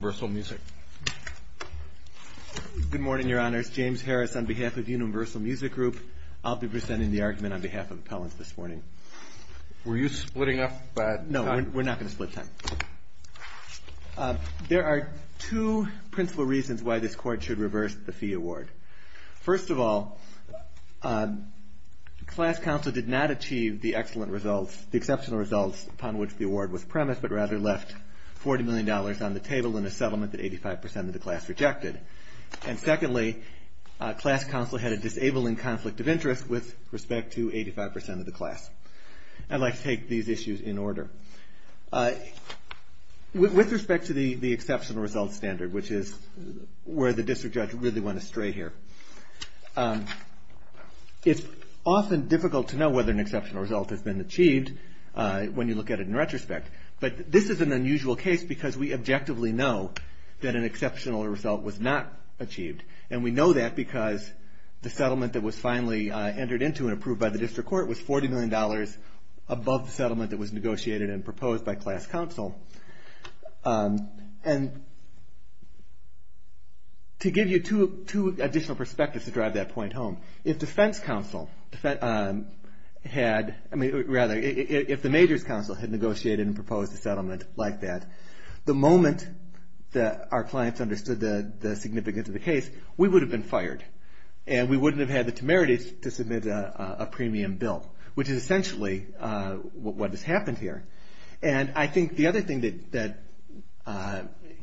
Good morning, Your Honors. James Harris on behalf of Universal Music Group. I'll be presenting the argument on behalf of Appellants this morning. Were you splitting up time? No, we're not going to split time. There are two principal reasons why this Court should reverse the fee award. First of all, Class Counsel did not achieve the excellent results, the exceptional results upon which the award was premised, but rather left $40 million on the table in a settlement that 85% of the class rejected. And secondly, Class Counsel had a disabling conflict of interest with respect to 85% of the class. I'd like to take these issues in order. With respect to the exceptional results standard, which is where the District Judge really went astray here, it's often difficult to know whether an exceptional result has been achieved when you look at it in retrospect. But this is an unusual case because we objectively know that an exceptional result was not achieved, and we know that because the settlement that was finally entered into and approved by the District Court was $40 million above the settlement that was negotiated and proposed by Class Counsel. And to give you two additional perspectives to drive that point home, if the Major's Counsel had negotiated and proposed a settlement like that, the moment that our clients understood the significance of the case, we would have been fired, and we wouldn't have had the temerity to submit a premium bill, which is essentially what has happened here. And I think the other thing that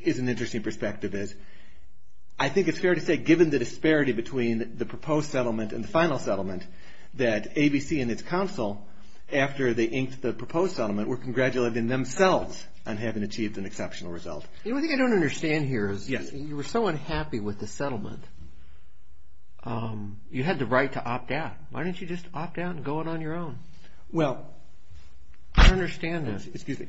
is an interesting perspective is, I think it's fair to say, given the disparity between the proposed settlement and the final settlement, that ABC and its counsel, after they inked the proposed settlement, were congratulating themselves on having achieved an exceptional result. The only thing I don't understand here is you were so unhappy with the settlement, you had the right to opt out. Why didn't you just opt out and go in on your own? Well, I don't understand this. Excuse me.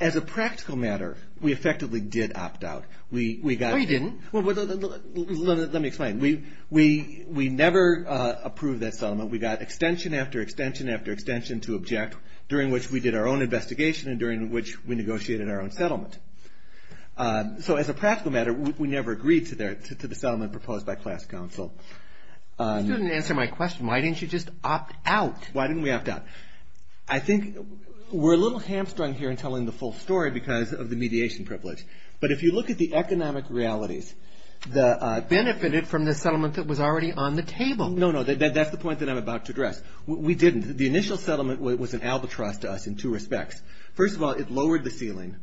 As a practical matter, we effectively did opt out. No, you didn't. Let me explain. We never approved that settlement. We got extension after extension after extension to object, during which we did our own investigation and during which we negotiated our own settlement. So as a practical matter, we never agreed to the settlement proposed by Class Counsel. You didn't answer my question. Why didn't you just opt out? Why didn't we opt out? I think we're a little hamstrung here in telling the full story because of the mediation privilege. But if you look at the economic realities. Benefited from the settlement that was already on the table. No, no. That's the point that I'm about to address. We didn't. The initial settlement was an albatross to us in two respects. First of all, it lowered the ceiling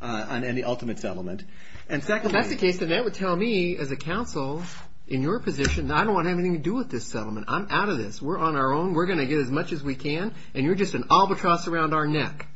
on any ultimate settlement. That's the case, and that would tell me as a counsel in your position, I don't want anything to do with this settlement. I'm out of this. We're on our own. We're going to get as much as we can, and you're just an albatross around our neck.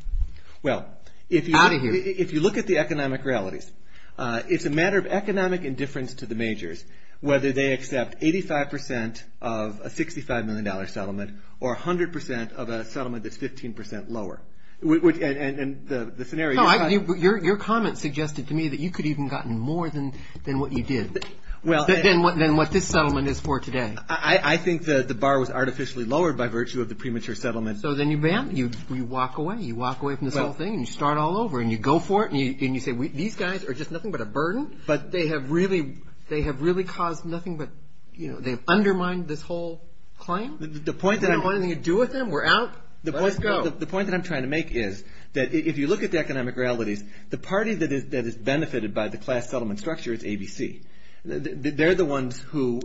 Well, if you look at the economic realities, it's a matter of economic indifference to the majors, whether they accept 85% of a $65 million settlement or 100% of a settlement that's 15% lower. And the scenario. No, your comment suggested to me that you could have even gotten more than what you did, than what this settlement is for today. I think that the bar was artificially lowered by virtue of the premature settlement. So then you walk away. You walk away from this whole thing, and you start all over, and you go for it, and you say these guys are just nothing but a burden. But they have really caused nothing but – they've undermined this whole claim. The point that I'm – We don't have anything to do with them. We're out. Let's go. The point that I'm trying to make is that if you look at the economic realities, the party that is benefited by the class settlement structure is ABC. They're the ones who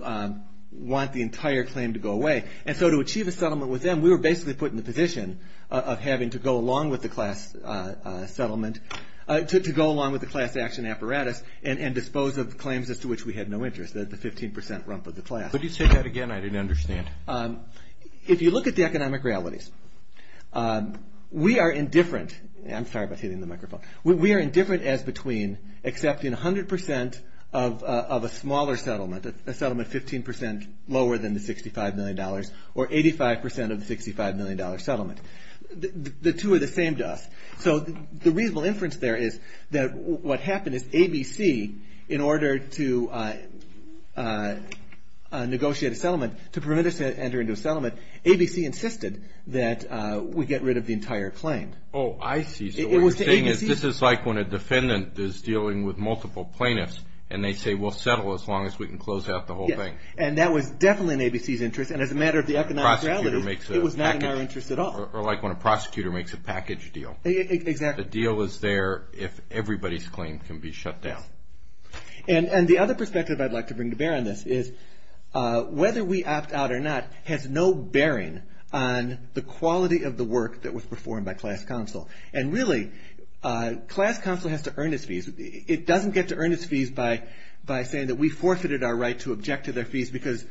want the entire claim to go away. And so to achieve a settlement with them, we were basically put in the position of having to go along with the class settlement – to go along with the class action apparatus and dispose of claims as to which we had no interest, the 15% rump of the class. Would you say that again? I didn't understand. If you look at the economic realities, we are indifferent – I'm sorry about hitting the microphone. We are indifferent as between accepting 100% of a smaller settlement, a settlement 15% lower than the $65 million, or 85% of the $65 million settlement. The two are the same to us. So the reasonable inference there is that what happened is ABC, in order to negotiate a settlement, to prevent us from entering into a settlement, ABC insisted that we get rid of the entire claim. Oh, I see. So what you're saying is this is like when a defendant is dealing with multiple plaintiffs and they say we'll settle as long as we can close out the whole thing. And that was definitely in ABC's interest. And as a matter of the economic realities, it was not in our interest at all. Or like when a prosecutor makes a package deal. Exactly. The deal is there if everybody's claim can be shut down. Yeah. And the other perspective I'd like to bring to bear on this is whether we opt out or not has no bearing on the quality of the work that was performed by class counsel. And really, class counsel has to earn its fees. It doesn't get to earn its fees by saying that we forfeited our right to object to their fees because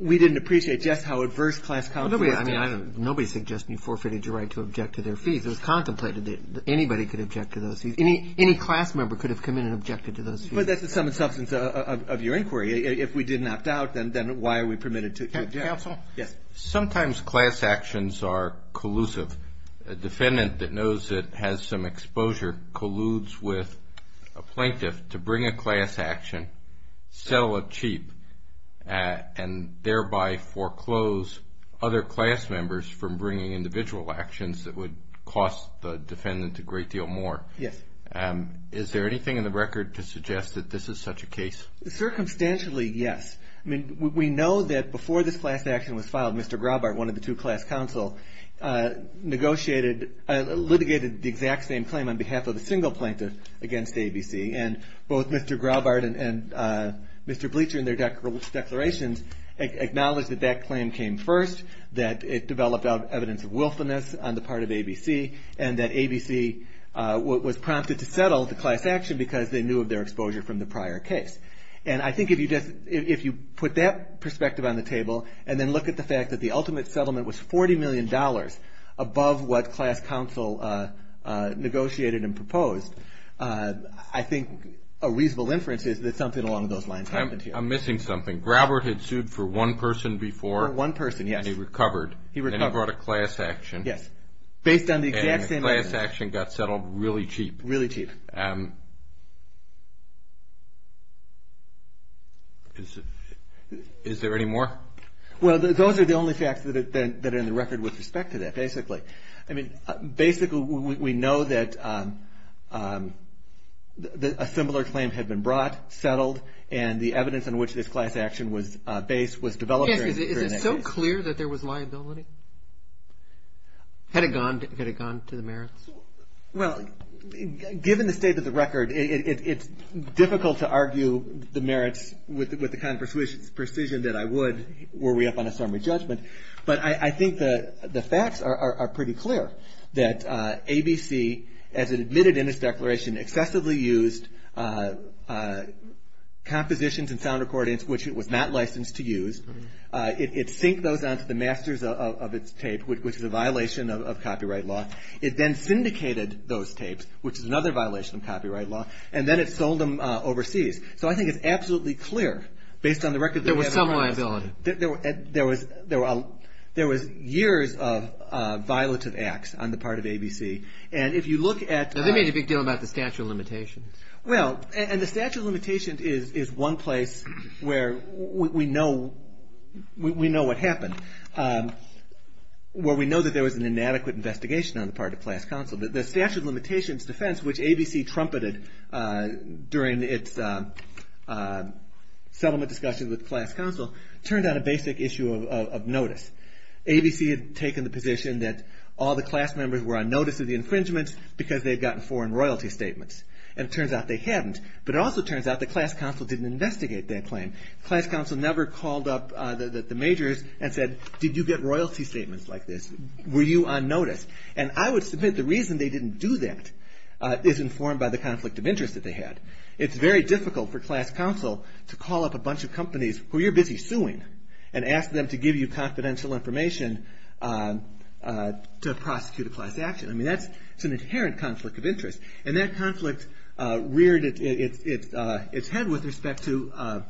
we didn't appreciate just how adverse class counsel was. I mean, nobody's suggesting you forfeited your right to object to their fees. It was contemplated that anybody could object to those fees. Any class member could have come in and objected to those fees. But that's the sum and substance of your inquiry. If we did not doubt, then why are we permitted to object? Counsel? Yes. Sometimes class actions are collusive. A defendant that knows it has some exposure colludes with a plaintiff to bring a class action, sell it cheap, and thereby foreclose other class members from bringing individual actions that would cost the defendant a great deal more. Yes. Is there anything in the record to suggest that this is such a case? Circumstantially, yes. I mean, we know that before this class action was filed, Mr. Graubart, one of the two class counsel, negotiated, litigated the exact same claim on behalf of a single plaintiff against ABC. And both Mr. Graubart and Mr. Bleacher in their declarations acknowledged that that claim came first, that it developed evidence of wilfulness on the part of ABC, and that ABC was prompted to settle the class action because they knew of their exposure from the prior case. And I think if you put that perspective on the table and then look at the fact that the ultimate settlement was $40 million above what class counsel negotiated and proposed, I think a reasonable inference is that something along those lines happened here. I'm missing something. Graubart had sued for one person before. For one person, yes. And he recovered. He recovered. And he brought a class action. Yes. Based on the exact same evidence. And the class action got settled really cheap. Really cheap. Is there any more? Well, those are the only facts that are in the record with respect to that, basically. I mean, basically we know that a similar claim had been brought, settled, and the evidence on which this class action was based was developed during that case. Yes. Is it so clear that there was liability? Had it gone to the merits? Well, given the state of the record, it's difficult to argue the merits with the kind of precision that I would were we up on a summary judgment. But I think the facts are pretty clear that ABC, as it admitted in its declaration, excessively used compositions and sound recordings which it was not licensed to use. It synced those onto the masters of its tape, which is a violation of copyright law. It then syndicated those tapes, which is another violation of copyright law. And then it sold them overseas. So I think it's absolutely clear, based on the record. There was some liability. There was years of violative acts on the part of ABC. And if you look at... They made a big deal about the statute of limitations. Well, and the statute of limitations is one place where we know what happened. Where we know that there was an inadequate investigation on the part of class counsel. The statute of limitations defense, which ABC trumpeted during its settlement discussion with class counsel, turned out a basic issue of notice. ABC had taken the position that all the class members were on notice of the infringements because they had gotten foreign royalty statements. And it turns out they hadn't. But it also turns out that class counsel didn't investigate that claim. Class counsel never called up the majors and said, did you get royalty statements like this? Were you on notice? And I would submit the reason they didn't do that is informed by the conflict of interest that they had. It's very difficult for class counsel to call up a bunch of companies who you're busy suing and ask them to give you confidential information to prosecute a class action. I mean, that's an inherent conflict of interest. And that conflict reared its head with respect to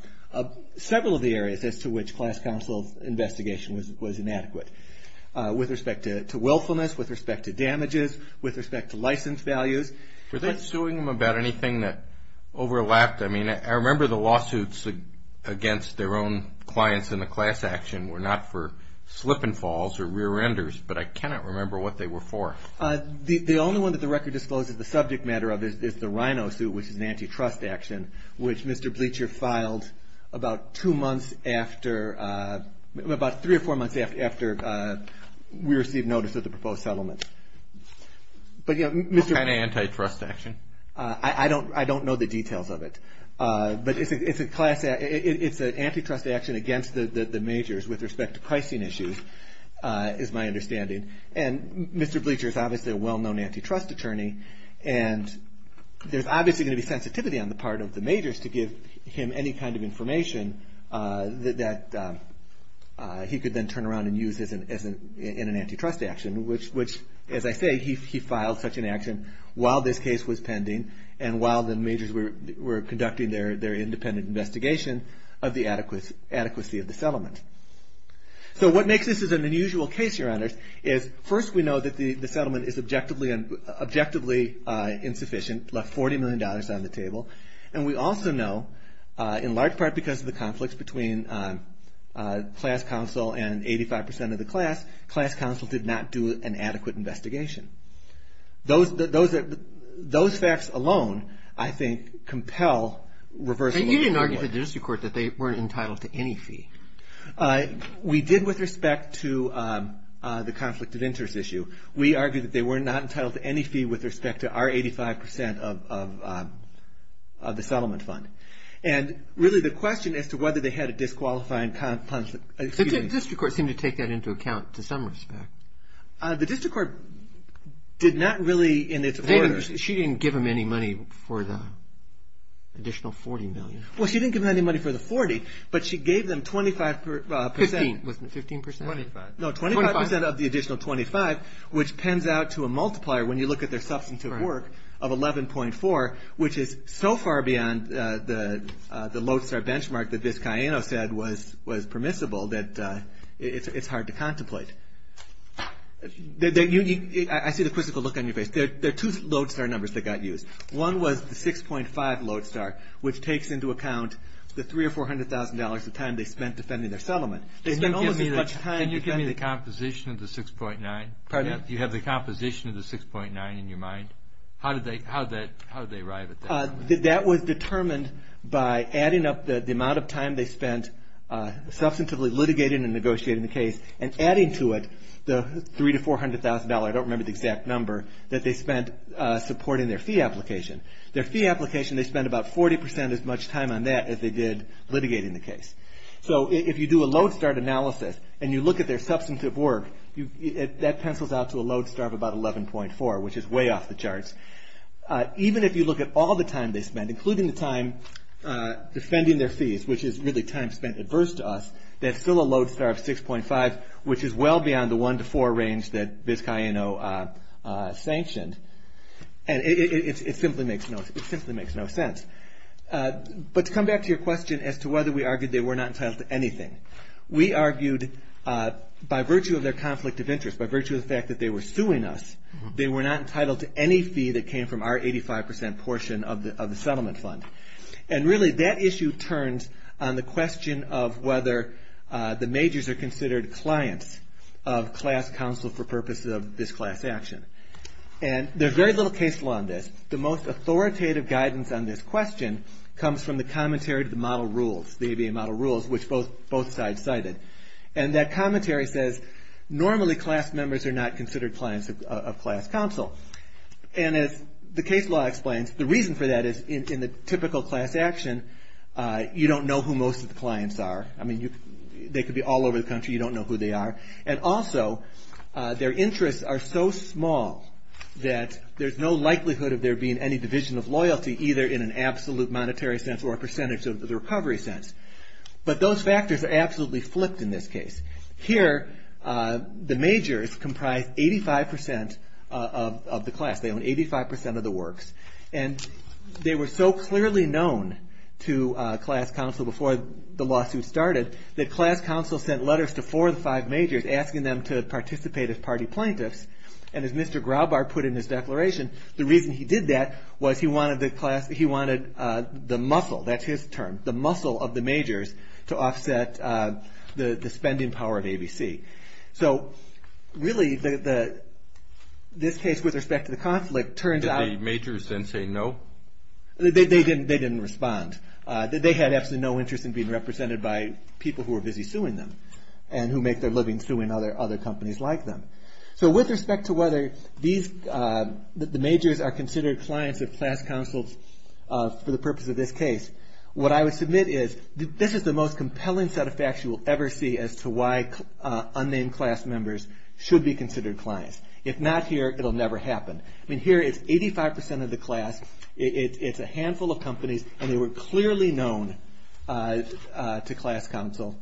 several of the areas as to which class counsel's investigation was inadequate. With respect to willfulness, with respect to damages, with respect to license values. Were they suing them about anything that overlapped? I mean, I remember the lawsuits against their own clients in the class action were not for slip and falls or rear-enders. But I cannot remember what they were for. The only one that the record discloses the subject matter of is the Rhino suit, which is an antitrust action, which Mr. Bleacher filed about two months after, about three or four months after we received notice of the proposed settlement. What kind of antitrust action? I don't know the details of it. But it's an antitrust action against the majors with respect to pricing issues, is my understanding. And Mr. Bleacher is obviously a well-known antitrust attorney. And there's obviously going to be sensitivity on the part of the majors to give him any kind of information that he could then turn around and use in an antitrust action, which, as I say, he filed such an action while this case was pending and while the majors were conducting their independent investigation of the adequacy of the settlement. So what makes this an unusual case, Your Honors, is first we know that the settlement is objectively insufficient, left $40 million on the table. And we also know, in large part because of the conflicts between class counsel and 85 percent of the class, class counsel did not do an adequate investigation. Those facts alone, I think, compel reversal of the framework. You argued to the district court that they weren't entitled to any fee. We did with respect to the conflict of interest issue. We argued that they were not entitled to any fee with respect to our 85 percent of the settlement fund. And really the question as to whether they had a disqualifying conflict. The district court seemed to take that into account to some respect. The district court did not really in its order. She didn't give them any money for the additional $40 million. Well, she didn't give them any money for the $40, but she gave them 25 percent. Fifteen, was it 15 percent? Twenty-five. No, 25 percent of the additional $25, which pens out to a multiplier when you look at their substantive work of $11.4, which is so far beyond the Lodestar benchmark that this Cayeno said was permissible that it's hard to contemplate. I see the quizzical look on your face. There are two Lodestar numbers that got used. One was the 6.5 Lodestar, which takes into account the $300,000 or $400,000 of time they spent defending their settlement. Can you give me the composition of the 6.9? Pardon me? Do you have the composition of the 6.9 in your mind? How did they arrive at that? That was determined by adding up the amount of time they spent substantively litigating and negotiating the case and adding to it the $300,000 to $400,000, I don't remember the exact number, that they spent supporting their fee application. Their fee application, they spent about 40 percent as much time on that as they did litigating the case. So if you do a Lodestar analysis and you look at their substantive work, that pencils out to a Lodestar of about 11.4, which is way off the charts. Even if you look at all the time they spent, including the time defending their fees, which is really time spent adverse to us, that's still a Lodestar of 6.5, which is well beyond the one to four range that Biscayeno sanctioned. And it simply makes no sense. But to come back to your question as to whether we argued they were not entitled to anything, we argued by virtue of their conflict of interest, by virtue of the fact that they were suing us, they were not entitled to any fee that came from our 85 percent portion of the settlement fund. And really that issue turns on the question of whether the majors are considered clients of class council for purposes of this class action. And there's very little case law on this. The most authoritative guidance on this question comes from the commentary to the model rules, the ABA model rules, which both sides cited. And that commentary says normally class members are not considered clients of class council. And as the case law explains, the reason for that is in the typical class action, you don't know who most of the clients are. I mean, they could be all over the country. You don't know who they are. And also, their interests are so small that there's no likelihood of there being any division of loyalty, either in an absolute monetary sense or a percentage of the recovery sense. But those factors are absolutely flipped in this case. Here, the majors comprise 85 percent of the class. They own 85 percent of the works. And they were so clearly known to class council before the lawsuit started that class council sent letters to four of the five majors asking them to participate as party plaintiffs. And as Mr. Graubart put in his declaration, the reason he did that was he wanted the muscle, that's his term, the muscle of the majors to offset the spending power of ABC. So really, this case with respect to the conflict turns out. Did the majors then say no? They didn't respond. They had absolutely no interest in being represented by people who were busy suing them and who make their living suing other companies like them. So with respect to whether the majors are considered clients of class councils for the purpose of this case, what I would submit is this is the most compelling set of facts you will ever see as to why unnamed class members should be considered clients. If not here, it will never happen. I mean, here it's 85 percent of the class. It's a handful of companies. And they were clearly known to class council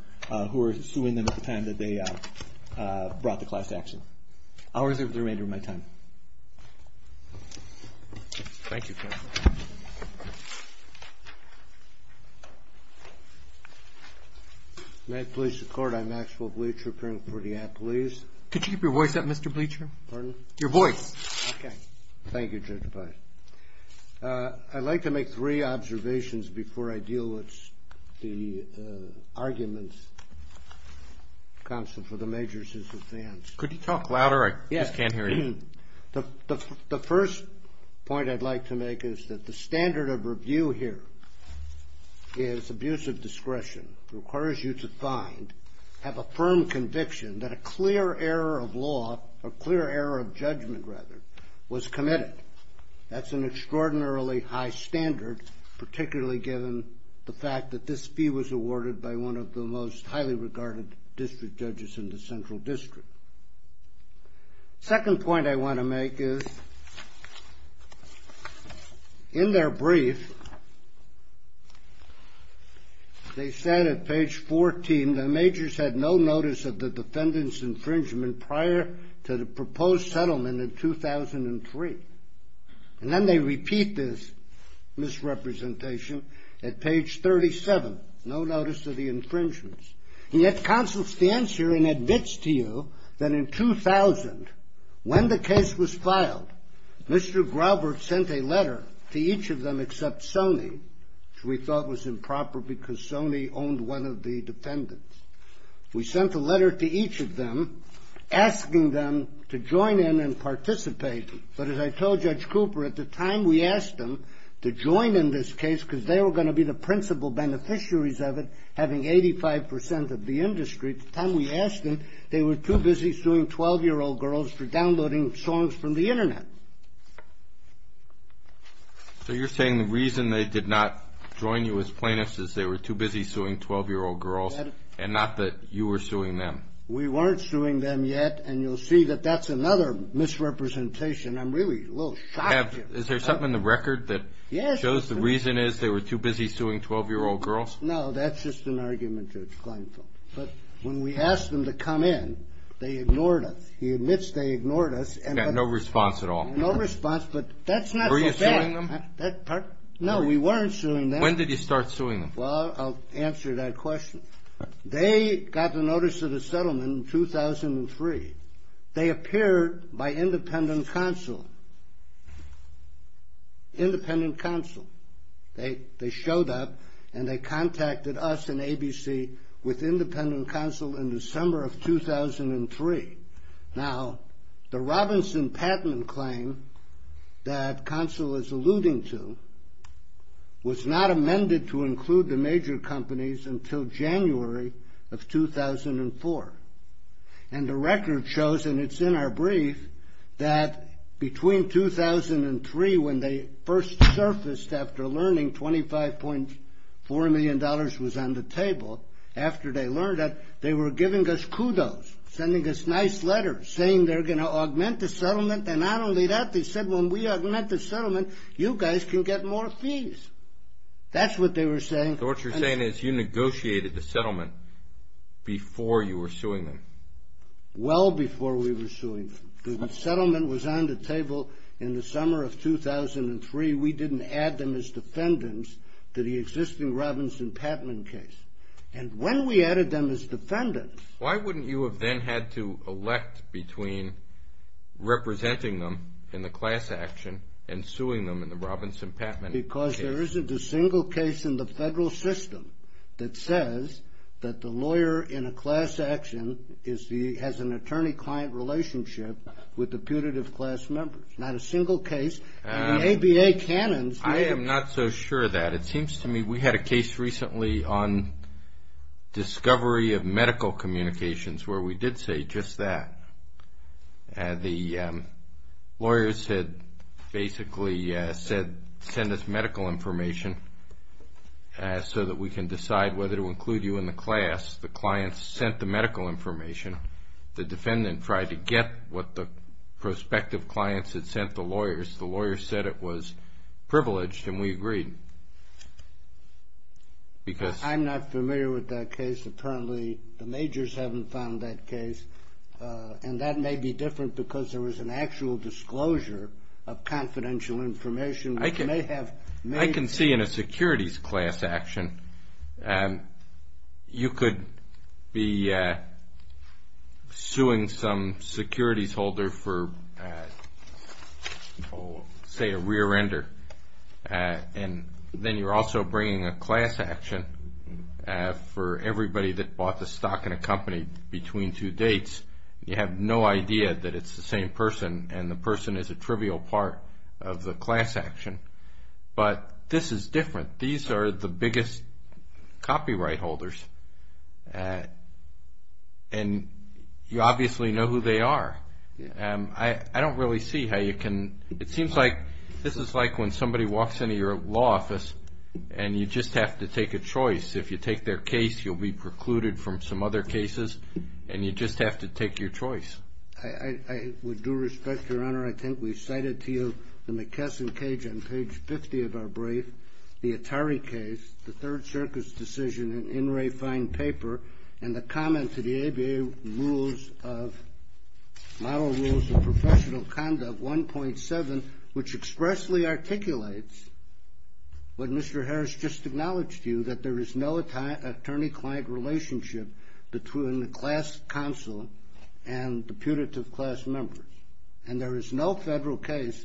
who were suing them at the time that they brought the class action. I'll reserve the remainder of my time. Thank you, counsel. May I please the court? I'm Maxwell Bleacher, appearing before the appellees. Could you keep your voice up, Mr. Bleacher? Pardon? Your voice. Okay. Thank you, Judge Feist. I'd like to make three observations before I deal with the arguments, counsel, for the majors' defense. Could you talk louder? I'm sorry. I just can't hear you. The first point I'd like to make is that the standard of review here is abusive discretion. It requires you to find, have a firm conviction that a clear error of law, a clear error of judgment, rather, was committed. That's an extraordinarily high standard, particularly given the fact that this fee was awarded by one of the most highly regarded district judges in the central district. Second point I want to make is, in their brief, they said at page 14, the majors had no notice of the defendant's infringement prior to the proposed settlement in 2003. And then they repeat this misrepresentation at page 37, no notice of the infringements. And yet counsel stands here and admits to you that in 2000, when the case was filed, Mr. Grover sent a letter to each of them except Sony, which we thought was improper because Sony owned one of the defendants. We sent a letter to each of them asking them to join in and participate. But as I told Judge Cooper, at the time we asked them to join in this case, because they were going to be the principal beneficiaries of it, having 85 percent of the industry. At the time we asked them, they were too busy suing 12-year-old girls for downloading songs from the Internet. So you're saying the reason they did not join you as plaintiffs is they were too busy suing 12-year-old girls and not that you were suing them? We weren't suing them yet, and you'll see that that's another misrepresentation. I'm really a little shocked here. Is there something in the record that shows the reason is they were too busy suing 12-year-old girls? No, that's just an argument, Judge Kleinfeld. But when we asked them to come in, they ignored us. He admits they ignored us. No response at all. No response, but that's not so bad. Were you suing them? No, we weren't suing them. When did you start suing them? Well, I'll answer that question. They got the notice of the settlement in 2003. They appeared by independent counsel, independent counsel. They showed up, and they contacted us and ABC with independent counsel in December of 2003. Now, the Robinson-Patman claim that counsel is alluding to was not amended to include the major companies until January of 2004. And the record shows, and it's in our brief, that between 2003 when they first surfaced after learning $25.4 million was on the table, after they learned that, they were giving us kudos, sending us nice letters, saying they're going to augment the settlement. And not only that, they said when we augment the settlement, you guys can get more fees. That's what they were saying. So what you're saying is you negotiated the settlement before you were suing them? Well before we were suing them. The settlement was on the table in the summer of 2003. We didn't add them as defendants to the existing Robinson-Patman case. And when we added them as defendants. Why wouldn't you have then had to elect between representing them in the class action and suing them in the Robinson-Patman case? Because there isn't a single case in the federal system that says that the lawyer in a class action has an attorney-client relationship with the putative class members. Not a single case in the ABA canons. I am not so sure of that. It seems to me we had a case recently on discovery of medical communications where we did say just that. The lawyers had basically said send us medical information so that we can decide whether to include you in the class. The clients sent the medical information. The defendant tried to get what the prospective clients had sent the lawyers. The lawyers said it was privileged and we agreed. I'm not familiar with that case. Apparently the majors haven't found that case. And that may be different because there was an actual disclosure of confidential information. I can see in a securities class action you could be suing some securities holder for, say, a rear-ender. And then you're also bringing a class action for everybody that bought the stock in a company between two dates. You have no idea that it's the same person and the person is a trivial part of the class action. But this is different. These are the biggest copyright holders. And you obviously know who they are. I don't really see how you can. It seems like this is like when somebody walks into your law office and you just have to take a choice. If you take their case, you'll be precluded from some other cases. And you just have to take your choice. I would do respect, Your Honor. I think we cited to you the McKesson Cage on page 50 of our brief, the Atari case, the Third Circus decision, an in re fine paper, and the comment to the ABA model rules of professional conduct 1.7, which expressly articulates what Mr. Harris just acknowledged to you, that there is no attorney-client relationship between the class counsel and the punitive class members. And there is no federal case,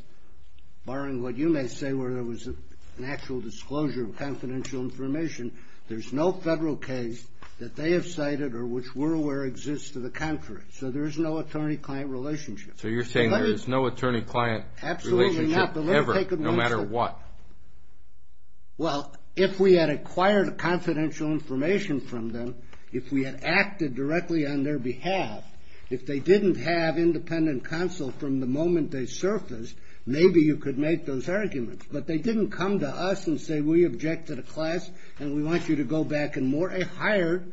barring what you may say where there was an actual disclosure of confidential information, there's no federal case that they have cited or which we're aware exists to the contrary. So there is no attorney-client relationship. So you're saying there is no attorney-client relationship ever, no matter what. Well, if we had acquired confidential information from them, if we had acted directly on their behalf, if they didn't have independent counsel from the moment they surfaced, maybe you could make those arguments. But they didn't come to us and say, we object to the class and we want you to go back and hire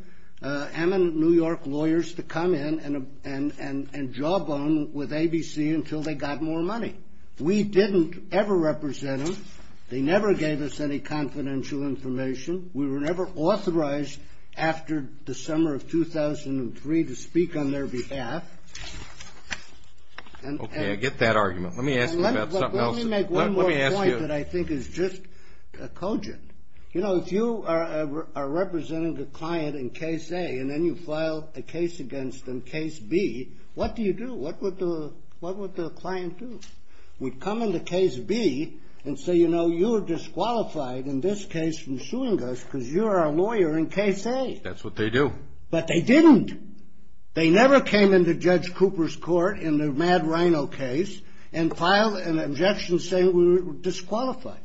eminent New York lawyers to come in and jawbone with ABC until they got more money. We didn't ever represent them. They never gave us any confidential information. We were never authorized after the summer of 2003 to speak on their behalf. Okay, I get that argument. Let me ask you about something else. Let me make one more point that I think is just cogent. You know, if you are representing a client in case A and then you file a case against them in case B, what do you do? What would the client do? We'd come into case B and say, you know, you're disqualified in this case from suing us because you're our lawyer in case A. That's what they do. But they didn't. They never came into Judge Cooper's court in the Mad Rhino case and filed an objection saying we were disqualified.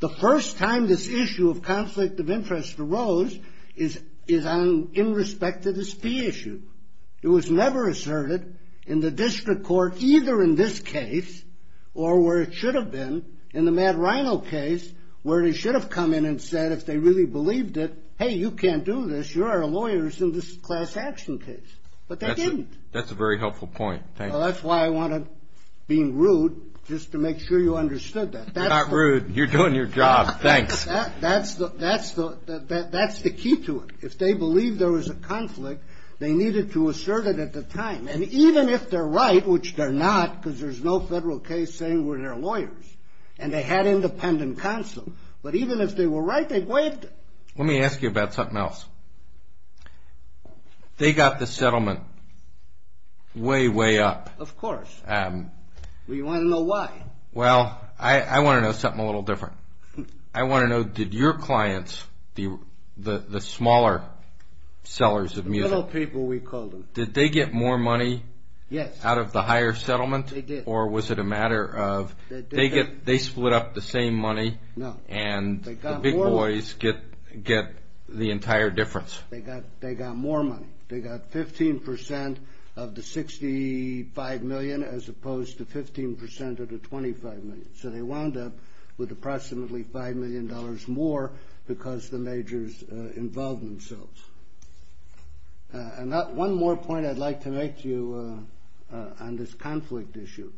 The first time this issue of conflict of interest arose is in respect to this B issue. It was never asserted in the district court either in this case or where it should have been in the Mad Rhino case where they should have come in and said if they really believed it, hey, you can't do this. You're our lawyers in this class action case. But they didn't. That's a very helpful point. Well, that's why I want to be rude just to make sure you understood that. You're not rude. You're doing your job. Thanks. That's the key to it. If they believed there was a conflict, they needed to assert it at the time. And even if they're right, which they're not because there's no federal case saying we're their lawyers, and they had independent counsel, but even if they were right, they waived it. Let me ask you about something else. They got the settlement way, way up. Of course. You want to know why? Well, I want to know something a little different. I want to know did your clients, the smaller sellers of music, did they get more money out of the higher settlement? They did. Or was it a matter of they split up the same money and the big boys get the entire difference? They got more money. They got 15% of the $65 million as opposed to 15% of the $25 million. So they wound up with approximately $5 million more because the majors involved themselves. And one more point I'd like to make to you on this conflict issue.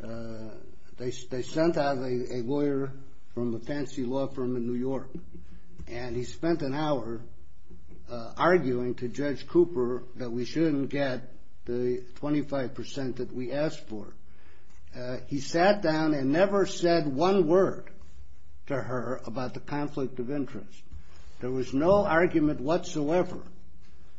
They sent out a lawyer from a fancy law firm in New York, and he spent an hour arguing to Judge Cooper that we shouldn't get the 25% that we asked for. He sat down and never said one word to her about the conflict of interest. There was no argument whatsoever,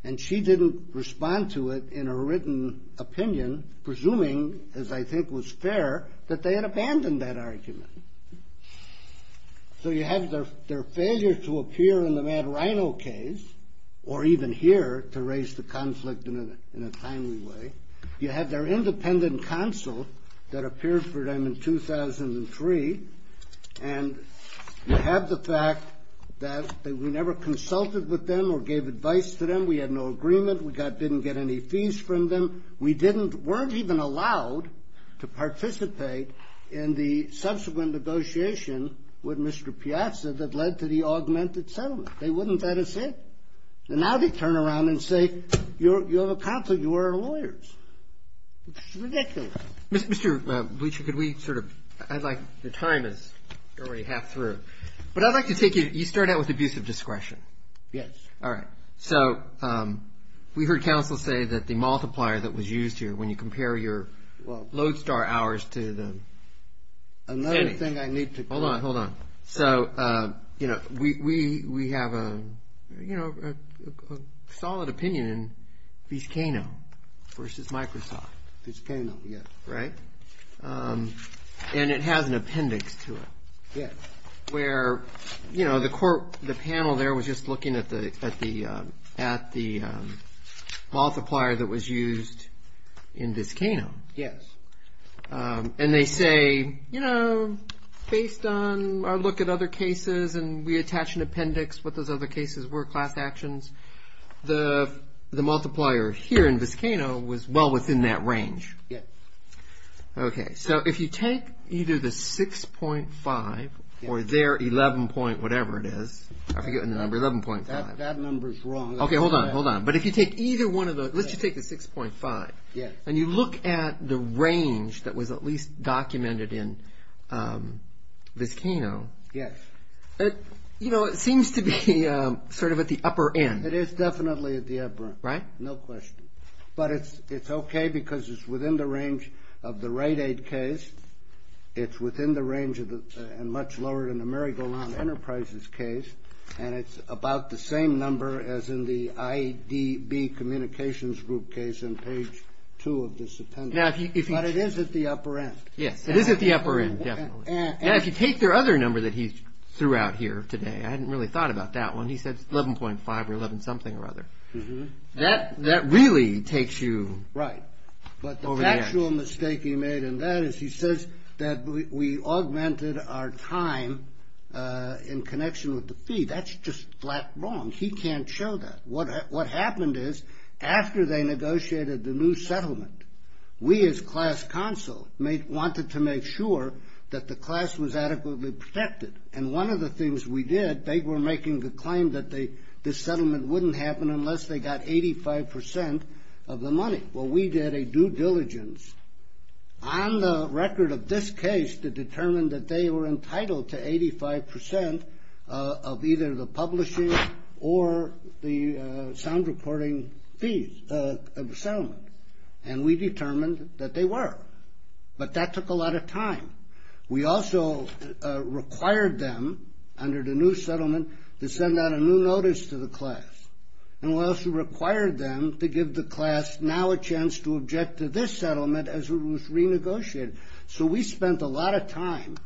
and she didn't respond to it in her written opinion, presuming, as I think was fair, that they had abandoned that argument. So you have their failure to appear in the Mad Rhino case, or even here, to raise the conflict in a timely way. You have their independent counsel that appeared for them in 2003, and you have the fact that we never consulted with them or gave advice to them. We had no agreement. We didn't get any fees from them. We weren't even allowed to participate in the subsequent negotiation with Mr. Piazza that led to the augmented settlement. They wouldn't let us in. And now they turn around and say, you have a conflict. You are our lawyers. It's ridiculous. Mr. Bleacher, could we sort of – I'd like – the time is already half through. But I'd like to take you – you started out with abusive discretion. Yes. All right. So we heard counsel say that the multiplier that was used here, when you compare your Lodestar hours to the – Another thing I need to – Hold on, hold on. So, you know, we have a, you know, a solid opinion in Vizcano v. Microsoft. Vizcano, yes. Right? And it has an appendix to it. Yes. Where, you know, the panel there was just looking at the multiplier that was used in Vizcano. Yes. And they say, you know, based on our look at other cases and we attach an appendix what those other cases were, class actions, the multiplier here in Vizcano was well within that range. Yes. Okay. So if you take either the 6.5 or their 11 point whatever it is – I'm forgetting the number – 11.5. That number is wrong. Okay, hold on, hold on. But if you take either one of those – let's just take the 6.5. Yes. And you look at the range that was at least documented in Vizcano. Yes. You know, it seems to be sort of at the upper end. It is definitely at the upper end. Right? No question. But it's okay because it's within the range of the Rite Aid case. It's within the range and much lower than the Mary Golan Enterprises case. And it's about the same number as in the IDB Communications Group case on page 2 of this appendix. But it is at the upper end. Yes. It is at the upper end, definitely. And if you take their other number that he threw out here today, I hadn't really thought about that one. He said 11.5 or 11 something or other. That really takes you over the edge. Right. But the actual mistake he made in that is he says that we augmented our time in connection with the fee. That's just flat wrong. He can't show that. What happened is after they negotiated the new settlement, we as class counsel wanted to make sure that the class was adequately protected. And one of the things we did, they were making the claim that this settlement wouldn't happen unless they got 85 percent of the money. Well, we did a due diligence on the record of this case to determine that they were entitled to 85 percent of either the publishing or the sound reporting fees of the settlement. And we determined that they were. But that took a lot of time. We also required them under the new settlement to send out a new notice to the class. And we also required them to give the class now a chance to object to this settlement as it was renegotiated. So we spent a lot of time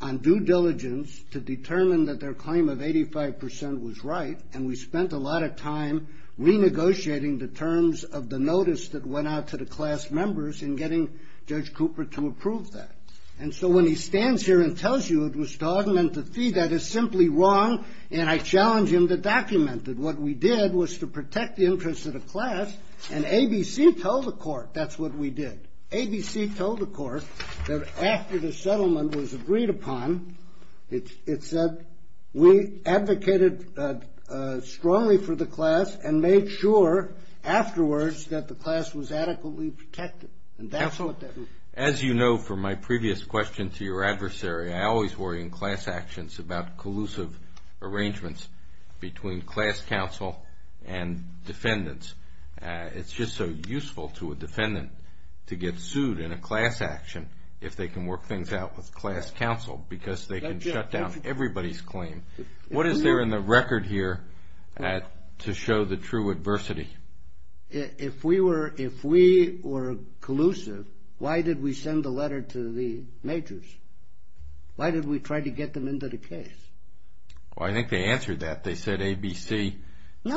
on due diligence to determine that their claim of 85 percent was right. And we spent a lot of time renegotiating the terms of the notice that went out to the class members and getting Judge Cooper to approve that. And so when he stands here and tells you it was to augment the fee, that is simply wrong, and I challenge him to document it. What we did was to protect the interests of the class, and ABC told the court that's what we did. And made sure afterwards that the class was adequately protected. Counsel, as you know from my previous question to your adversary, I always worry in class actions about collusive arrangements between class counsel and defendants. It's just so useful to a defendant to get sued in a class action if they can work things out with class counsel, because they can shut down everybody's claim. What is there in the record here to show the true adversity? If we were collusive, why did we send the letter to the majors? Why did we try to get them into the case? Well, I think they answered that. They said ABC said we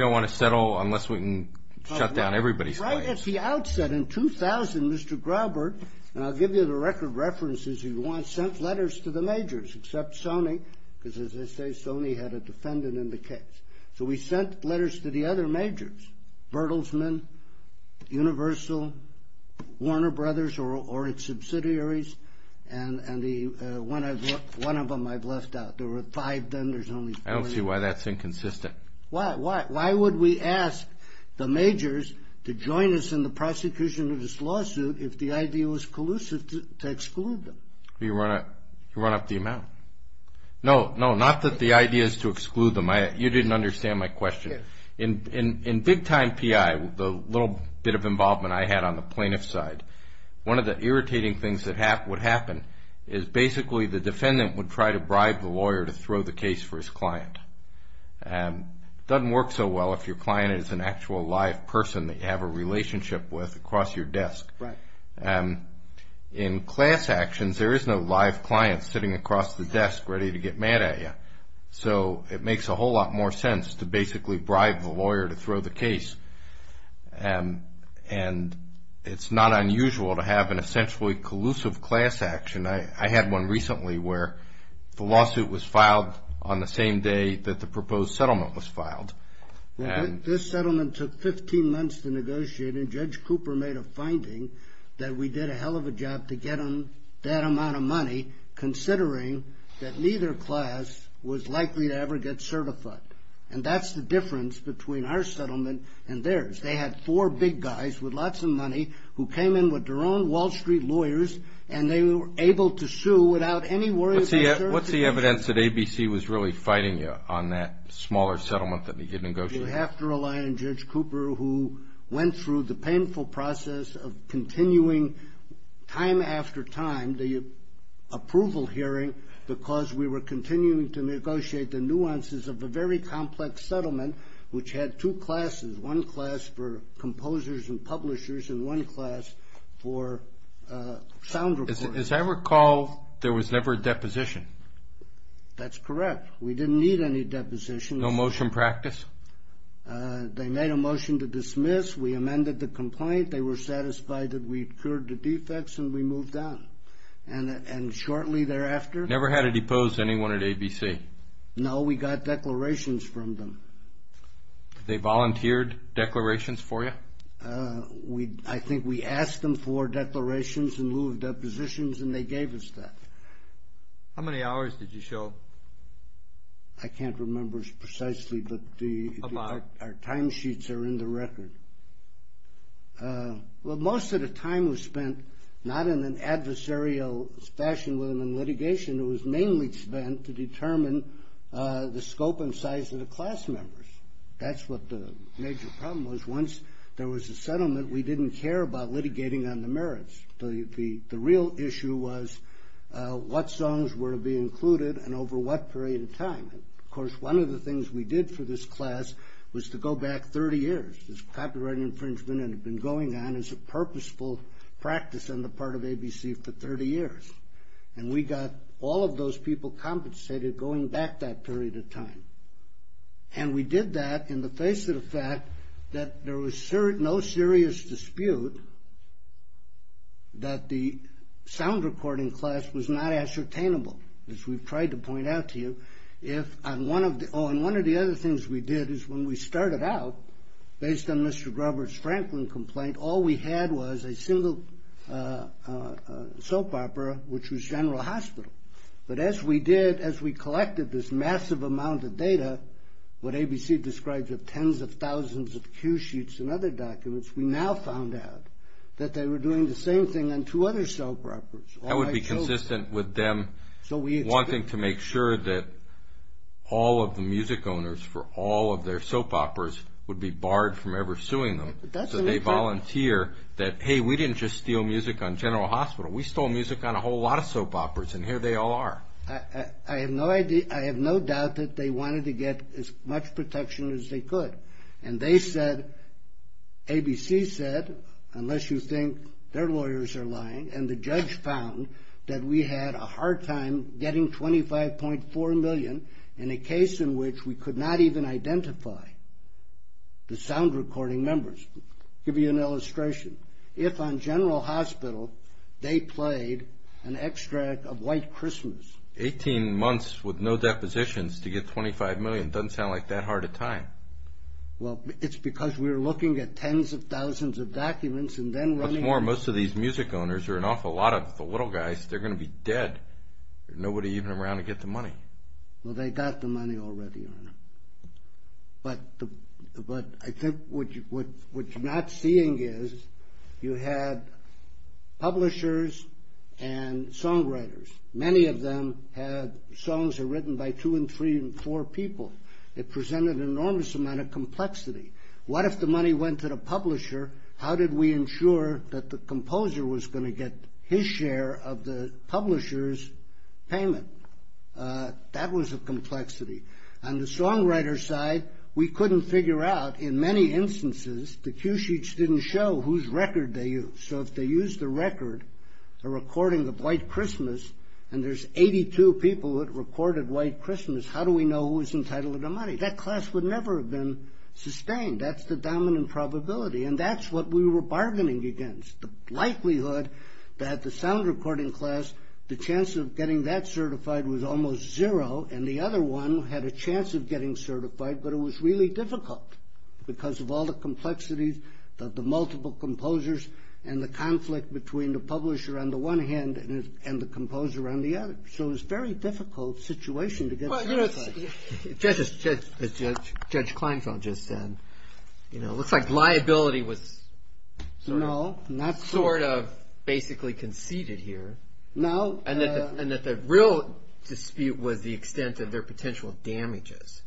don't want to settle unless we can shut down everybody's claim. Right at the outset in 2000, Mr. Graubert, and I'll give you the record references, he sent letters to the majors, except Sony, because as I say, Sony had a defendant in the case. So we sent letters to the other majors, Bertelsmann, Universal, Warner Brothers, or its subsidiaries, and one of them I've left out. There were five then, there's only four now. I don't see why that's inconsistent. Why would we ask the majors to join us in the prosecution of this lawsuit if the idea was collusive to exclude them? You run up the amount. No, not that the idea is to exclude them. You didn't understand my question. In big-time PI, the little bit of involvement I had on the plaintiff's side, one of the irritating things that would happen is basically the defendant would try to bribe the lawyer to throw the case for his client. It doesn't work so well if your client is an actual live person that you have a relationship with across your desk. Right. In class actions, there is no live client sitting across the desk ready to get mad at you. So it makes a whole lot more sense to basically bribe the lawyer to throw the case, and it's not unusual to have an essentially collusive class action. I had one recently where the lawsuit was filed on the same day that the proposed settlement was filed. This settlement took 15 months to negotiate, and Judge Cooper made a finding that we did a hell of a job to get him that amount of money, considering that neither class was likely to ever get certified. And that's the difference between our settlement and theirs. They had four big guys with lots of money who came in with their own Wall Street lawyers, and they were able to sue without any worry about certification. What's the evidence that ABC was really fighting you on that smaller settlement that you negotiated? You have to rely on Judge Cooper, who went through the painful process of continuing time after time the approval hearing because we were continuing to negotiate the nuances of a very complex settlement, which had two classes, one class for composers and publishers and one class for sound recording. As I recall, there was never a deposition. That's correct. We didn't need any depositions. No motion practice? They made a motion to dismiss. We amended the complaint. They were satisfied that we'd cured the defects, and we moved on. And shortly thereafter— Never had to depose anyone at ABC. No, we got declarations from them. They volunteered declarations for you? I think we asked them for declarations in lieu of depositions, and they gave us that. How many hours did you show? I can't remember precisely, but our timesheets are in the record. Well, most of the time was spent not in an adversarial fashion with them in litigation. It was mainly spent to determine the scope and size of the class members. That's what the major problem was. Once there was a settlement, we didn't care about litigating on the merits. The real issue was what songs were to be included and over what period of time. Of course, one of the things we did for this class was to go back 30 years. This copyright infringement had been going on as a purposeful practice on the part of ABC for 30 years, and we got all of those people compensated going back that period of time. And we did that in the face of the fact that there was no serious dispute that the sound recording class was not ascertainable, as we've tried to point out to you. Oh, and one of the other things we did is when we started out, based on Mr. Robert's Franklin complaint, all we had was a single soap opera, which was General Hospital. But as we did, as we collected this massive amount of data, what ABC describes as tens of thousands of cue sheets and other documents, we now found out that they were doing the same thing on two other soap operas. That would be consistent with them wanting to make sure that all of the music owners for all of their soap operas would be barred from ever suing them. So they volunteer that, hey, we didn't just steal music on General Hospital. We stole music on a whole lot of soap operas, and here they all are. I have no doubt that they wanted to get as much protection as they could. And they said, ABC said, unless you think their lawyers are lying, and the judge found that we had a hard time getting $25.4 million in a case in which we could not even identify the sound recording members. I'll give you an illustration. If on General Hospital they played an extract of White Christmas. Eighteen months with no depositions to get $25 million doesn't sound like that hard a time. Well, it's because we were looking at tens of thousands of documents and then running out. What's more, most of these music owners, or an awful lot of the little guys, they're going to be dead. There's nobody even around to get the money. Well, they got the money already. But I think what you're not seeing is you had publishers and songwriters. Many of them had songs that were written by two and three and four people. It presented an enormous amount of complexity. What if the money went to the publisher? How did we ensure that the composer was going to get his share of the publisher's payment? That was a complexity. On the songwriter's side, we couldn't figure out, in many instances, the cue sheets didn't show whose record they used. So if they used the record, a recording of White Christmas, and there's 82 people that recorded White Christmas, how do we know who was entitled to the money? That class would never have been sustained. That's the dominant probability, and that's what we were bargaining against. The likelihood that the sound recording class, the chance of getting that certified was almost zero, and the other one had a chance of getting certified, but it was really difficult because of all the complexities, the multiple composers, and the conflict between the publisher on the one hand and the composer on the other. So it was a very difficult situation to get certified. Judge Kleinfeld just said it looks like liability was sort of basically conceded here, and that the real dispute was the extent of their potential damages,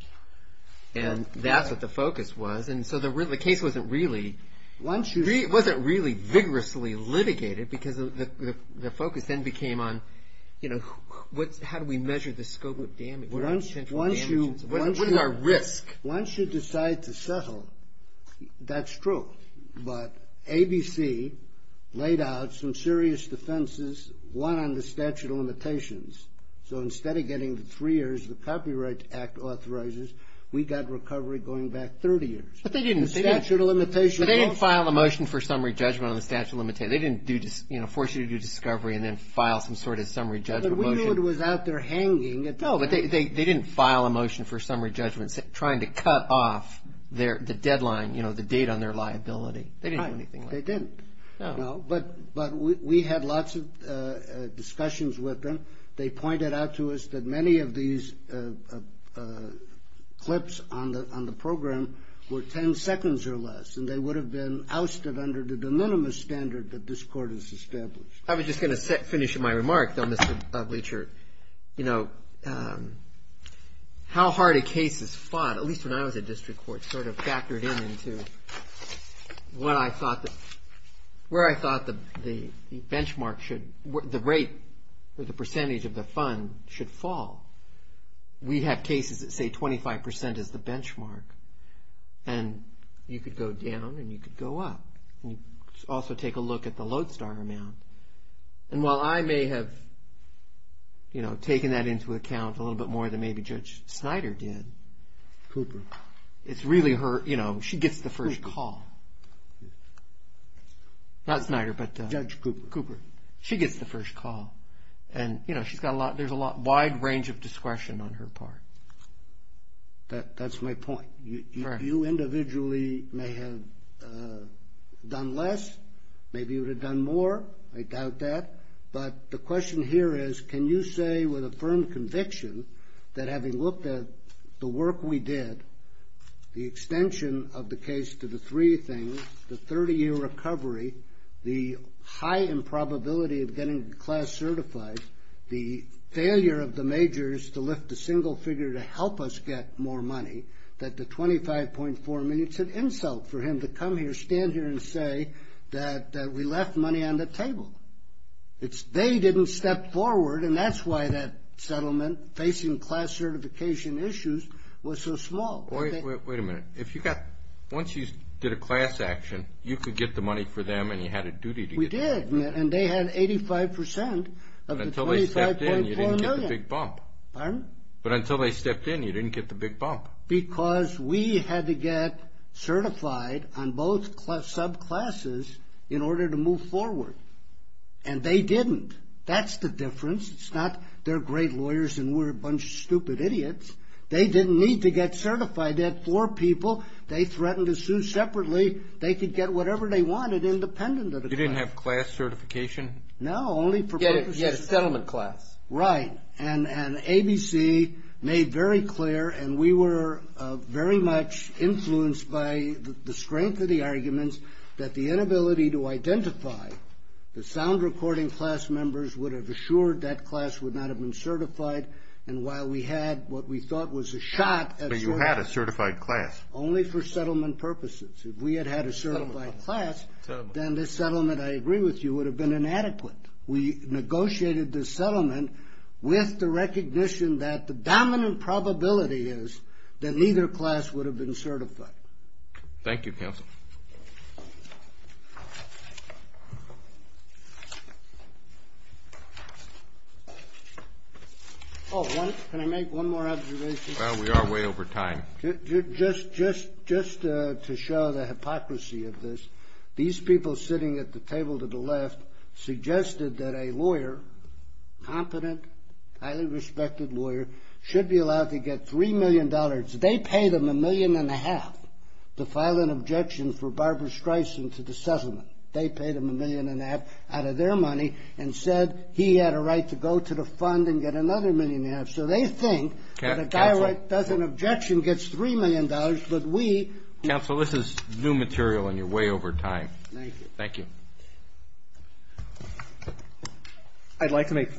and that's what the focus was. So the case wasn't really vigorously litigated because the focus then became on how do we measure the scope of damage? Once you decide to settle, that's true, but ABC laid out some serious defenses, one on the statute of limitations. So instead of getting the three years the Copyright Act authorizes, we got recovery going back 30 years. But they didn't file a motion for summary judgment on the statute of limitations. They didn't force you to do discovery and then file some sort of summary judgment motion. No, but they didn't file a motion for summary judgment trying to cut off the deadline, you know, the date on their liability. They didn't do anything like that. They didn't. But we had lots of discussions with them. They pointed out to us that many of these clips on the program were 10 seconds or less, and they would have been ousted under the de minimis standard that this court has established. I was just going to finish my remark, though, Mr. Bleacher, you know, how hard a case is fought, at least when I was at district court, sort of factored in into where I thought the benchmark should, the rate or the percentage of the fund should fall. We have cases that say 25% is the benchmark, and you could go down and you could go up. And you could also take a look at the Lodestar amount. And while I may have, you know, taken that into account a little bit more than maybe Judge Snyder did. Cooper. It's really her, you know, she gets the first call. Not Snyder, but. Judge Cooper. Cooper. She gets the first call. And, you know, she's got a lot, there's a wide range of discretion on her part. That's my point. You individually may have done less. Maybe you would have done more. I doubt that. But the question here is, can you say with a firm conviction that having looked at the work we did, the extension of the case to the three things, the 30-year recovery, the high improbability of getting the class certified, the failure of the majors to lift a single figure to help us get more money, that the 25.4 million, it's an insult for him to come here, stand here, and say that we left money on the table. They didn't step forward, and that's why that settlement facing class certification issues was so small. Wait a minute. If you got, once you did a class action, you could get the money for them and you had a duty to get it. We did. And they had 85 percent of the 25.4 million. But until they stepped in, you didn't get the big bump. Pardon? But until they stepped in, you didn't get the big bump. Because we had to get certified on both subclasses in order to move forward. And they didn't. That's the difference. It's not they're great lawyers and we're a bunch of stupid idiots. They didn't need to get certified. They had four people. They threatened to sue separately. They could get whatever they wanted independent of the class. You didn't have class certification? No, only for purposes. You had a settlement class. Right. And ABC made very clear, and we were very much influenced by the strength of the arguments, that the inability to identify the sound recording class members would have assured that class would not have been certified. And while we had what we thought was a shot at certifying. But you had a certified class. Only for settlement purposes. If we had had a certified class, then this settlement, I agree with you, would have been inadequate. We negotiated this settlement with the recognition that the dominant probability is that neither class would have been certified. Thank you, counsel. Oh, can I make one more observation? We are way over time. Just to show the hypocrisy of this, these people sitting at the table to the left suggested that a lawyer, competent, highly respected lawyer, should be allowed to get $3 million. They paid him a million and a half to file an objection for Barbara Streisand to the settlement. They paid him a million and a half out of their money and said he had a right to go to the fund and get another million and a half. So they think that a guy that does an objection gets $3 million, but we. Counsel, this is new material, and you're way over time. Thank you. I'd like to make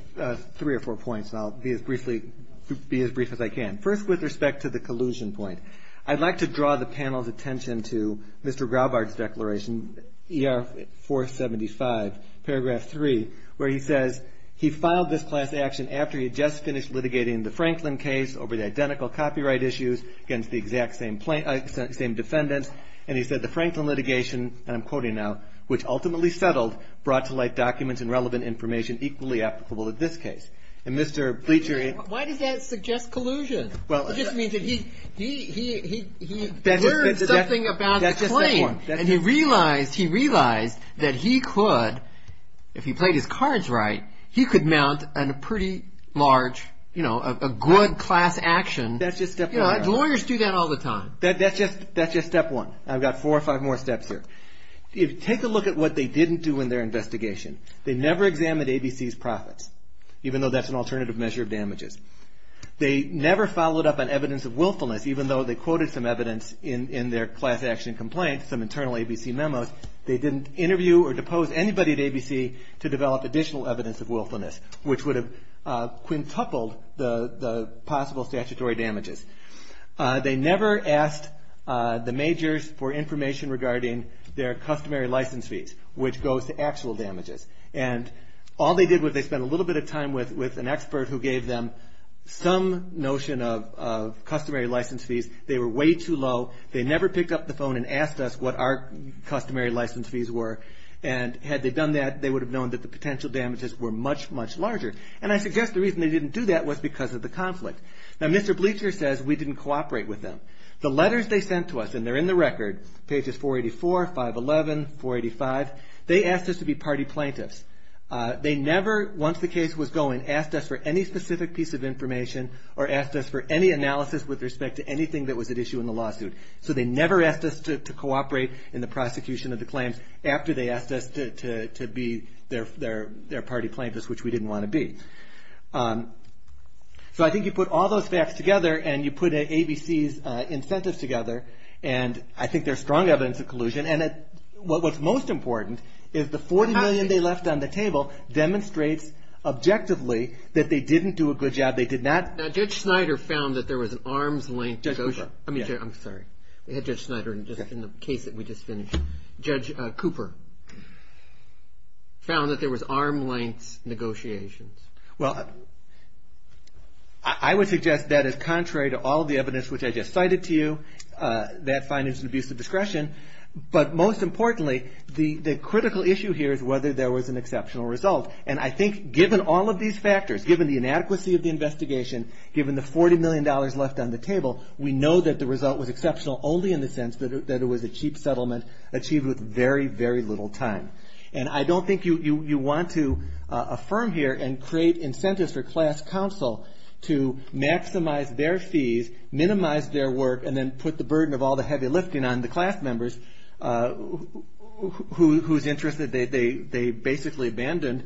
three or four points, and I'll be as brief as I can. First, with respect to the collusion point, I'd like to draw the panel's attention to Mr. Graubard's declaration, ER 475, paragraph 3, where he says he filed this class action after he had just finished litigating the Franklin case over the identical copyright issues against the exact same defendants, and he said the Franklin litigation, and I'm quoting now, which ultimately settled brought to light documents and relevant information equally applicable to this case. And Mr. Bleachery. Why does that suggest collusion? Well. It just means that he learned something about the claim. That's just the point. And he realized that he could, if he played his cards right, he could mount a pretty large, you know, a good class action. That's just step one. Lawyers do that all the time. That's just step one. I've got four or five more steps here. Take a look at what they didn't do in their investigation. They never examined ABC's profits, even though that's an alternative measure of damages. They never followed up on evidence of willfulness, even though they quoted some evidence in their class action complaint, some internal ABC memos. They didn't interview or depose anybody at ABC to develop additional evidence of willfulness, which would have quintupled the possible statutory damages. They never asked the majors for information regarding their customary license fees, which goes to actual damages. And all they did was they spent a little bit of time with an expert who gave them some notion of customary license fees. They were way too low. They never picked up the phone and asked us what our customary license fees were. And had they done that, they would have known that the potential damages were much, much larger. And I suggest the reason they didn't do that was because of the conflict. Now, Mr. Bleacher says we didn't cooperate with them. The letters they sent to us, and they're in the record, pages 484, 511, 485, they asked us to be party plaintiffs. They never, once the case was going, asked us for any specific piece of information or asked us for any analysis with respect to anything that was at issue in the lawsuit. So they never asked us to cooperate in the prosecution of the claims after they asked us to be their party plaintiffs, which we didn't want to be. So I think you put all those facts together and you put ABC's incentives together, and I think there's strong evidence of collusion. And what's most important is the $40 million they left on the table demonstrates objectively that they didn't do a good job. They did not. Now, Judge Snyder found that there was an arm's length negotiation. Judge Cooper. I'm sorry. We had Judge Snyder in the case that we just finished. Judge Cooper found that there was arm's length negotiations. Well, I would suggest that is contrary to all the evidence which I just cited to you, that finance and abuse of discretion. But most importantly, the critical issue here is whether there was an exceptional result. And I think given all of these factors, given the inadequacy of the investigation, given the $40 million left on the table, we know that the result was exceptional only in the sense that it was a cheap settlement achieved with very, very little time. And I don't think you want to affirm here and create incentives for class counsel to maximize their fees, minimize their work, and then put the burden of all the heavy lifting on the class members who's interested. They basically abandoned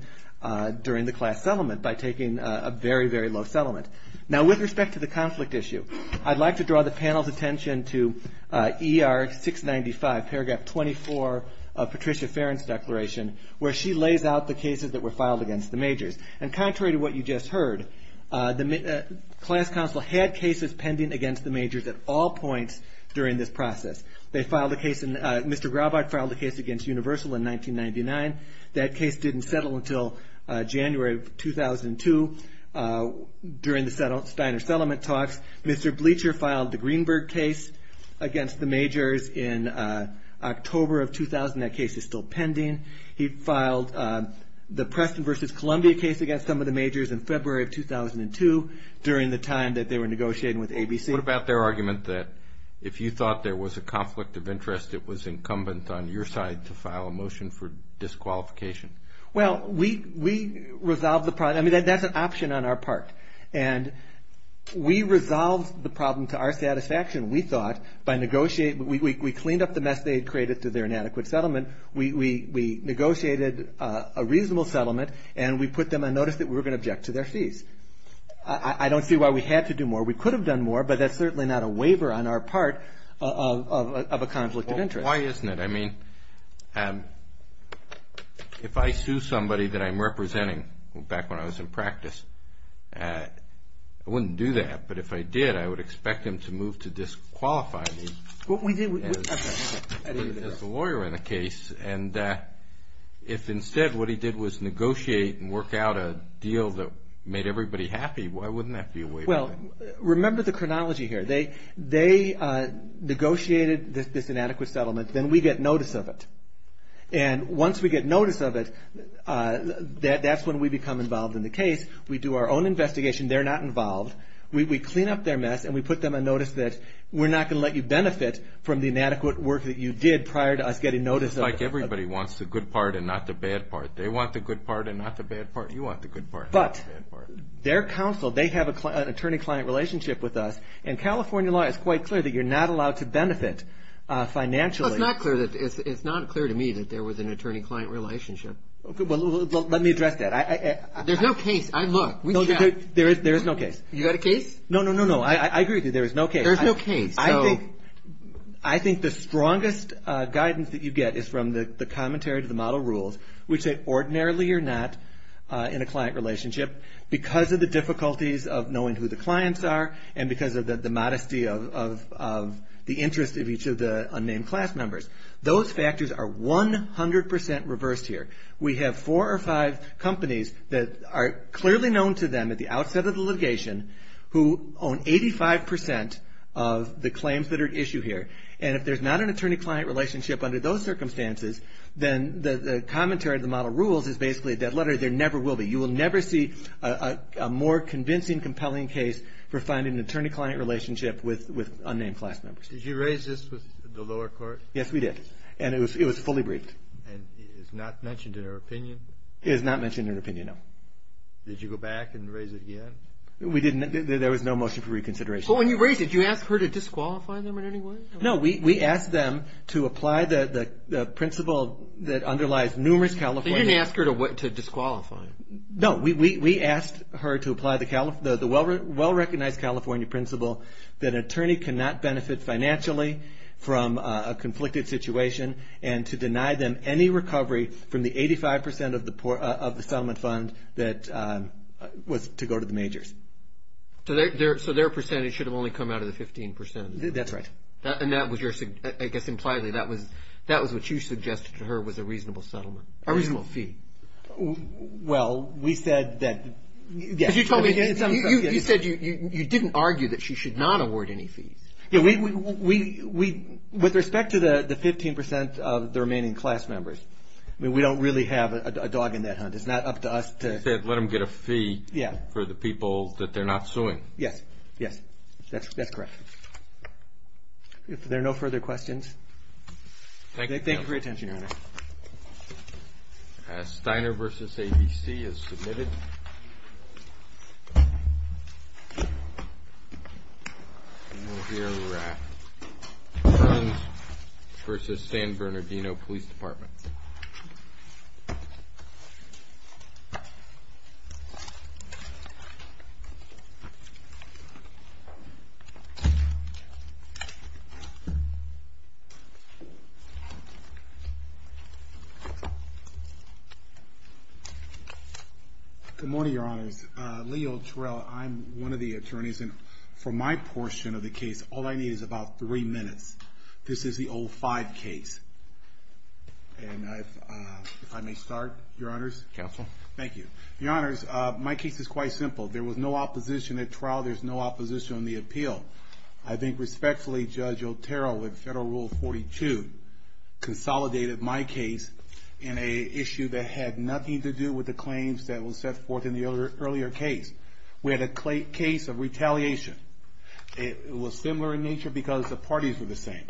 during the class settlement by taking a very, very low settlement. Now, with respect to the conflict issue, I'd like to draw the panel's attention to ER 695, paragraph 24 of Patricia Farron's declaration, where she lays out the cases that were filed against the majors. And contrary to what you just heard, the class counsel had cases pending against the majors at all points during this process. They filed a case, Mr. Graubard filed a case against Universal in 1999. That case didn't settle until January of 2002 during the Steiner settlement talks. Mr. Bleacher filed the Greenberg case against the majors in October of 2000. That case is still pending. He filed the Preston versus Columbia case against some of the majors in February of 2002 during the time that they were negotiating with ABC. What about their argument that if you thought there was a conflict of interest, it was incumbent on your side to file a motion for disqualification? Well, we resolved the problem. I mean, that's an option on our part. And we resolved the problem to our satisfaction, we thought, by negotiating. We cleaned up the mess they had created through their inadequate settlement. We negotiated a reasonable settlement, and we put them on notice that we were going to object to their fees. I don't see why we had to do more. We could have done more, but that's certainly not a waiver on our part of a conflict of interest. Well, why isn't it? I mean, if I sue somebody that I'm representing back when I was in practice, I wouldn't do that. But if I did, I would expect them to move to disqualify me. As a lawyer in a case, and if instead what he did was negotiate and work out a deal that made everybody happy, why wouldn't that be a waiver? Well, remember the chronology here. They negotiated this inadequate settlement. Then we get notice of it. And once we get notice of it, that's when we become involved in the case. We do our own investigation. They're not involved. We clean up their mess, and we put them on notice that we're not going to let you benefit from the inadequate work that you did prior to us getting notice of it. It's like everybody wants the good part and not the bad part. They want the good part and not the bad part. You want the good part and not the bad part. But their counsel, they have an attorney-client relationship with us, and California law is quite clear that you're not allowed to benefit financially. Well, it's not clear to me that there was an attorney-client relationship. Well, let me address that. There's no case. I look. There is no case. You got a case? No, no, no, no. I agree with you. There is no case. There's no case. I think the strongest guidance that you get is from the commentary to the model rules, which say ordinarily you're not in a client relationship because of the difficulties of knowing who the clients are and because of the modesty of the interest of each of the unnamed class members. Those factors are 100% reversed here. We have four or five companies that are clearly known to them at the outset of the litigation who own 85% of the claims that are at issue here. And if there's not an attorney-client relationship under those circumstances, then the commentary of the model rules is basically a dead letter. There never will be. You will never see a more convincing, compelling case for finding an attorney-client relationship with unnamed class members. Did you raise this with the lower court? Yes, we did. And it was fully briefed. And it is not mentioned in her opinion? It is not mentioned in her opinion, no. Did you go back and raise it again? We didn't. There was no motion for reconsideration. But when you raised it, did you ask her to disqualify them in any way? No, we asked them to apply the principle that underlies numerous California... You didn't ask her to disqualify them. No, we asked her to apply the well-recognized California principle that an attorney cannot benefit financially from a conflicted situation and to deny them any recovery from the 85 percent of the settlement fund that was to go to the majors. So their percentage should have only come out of the 15 percent? That's right. And that was your... I guess impliedly that was what you suggested to her was a reasonable settlement, a reasonable fee. Well, we said that... Because you told me... You said you didn't argue that she should not award any fees. With respect to the 15 percent of the remaining class members, we don't really have a dog in that hunt. It's not up to us to... You said let them get a fee for the people that they're not suing. Yes. Yes. That's correct. If there are no further questions... Thank you. Thank you for your attention, Your Honor. Steiner v. ABC is submitted. Thank you. We will hear in the raft Burns v. San Bernardino Police Department. Good morning, Your Honors. Lee Otero, I'm one of the attorneys, and for my portion of the case, all I need is about three minutes. This is the 05 case. And if I may start, Your Honors. Counsel. Thank you. Your Honors, my case is quite simple. There was no opposition at trial. There's no opposition on the appeal. I think respectfully, Judge Otero, with Federal Rule 42, consolidated my case in an issue that had nothing to do with the claims that were set forth in the earlier case. We had a case of retaliation. It was similar in nature because the parties were the same.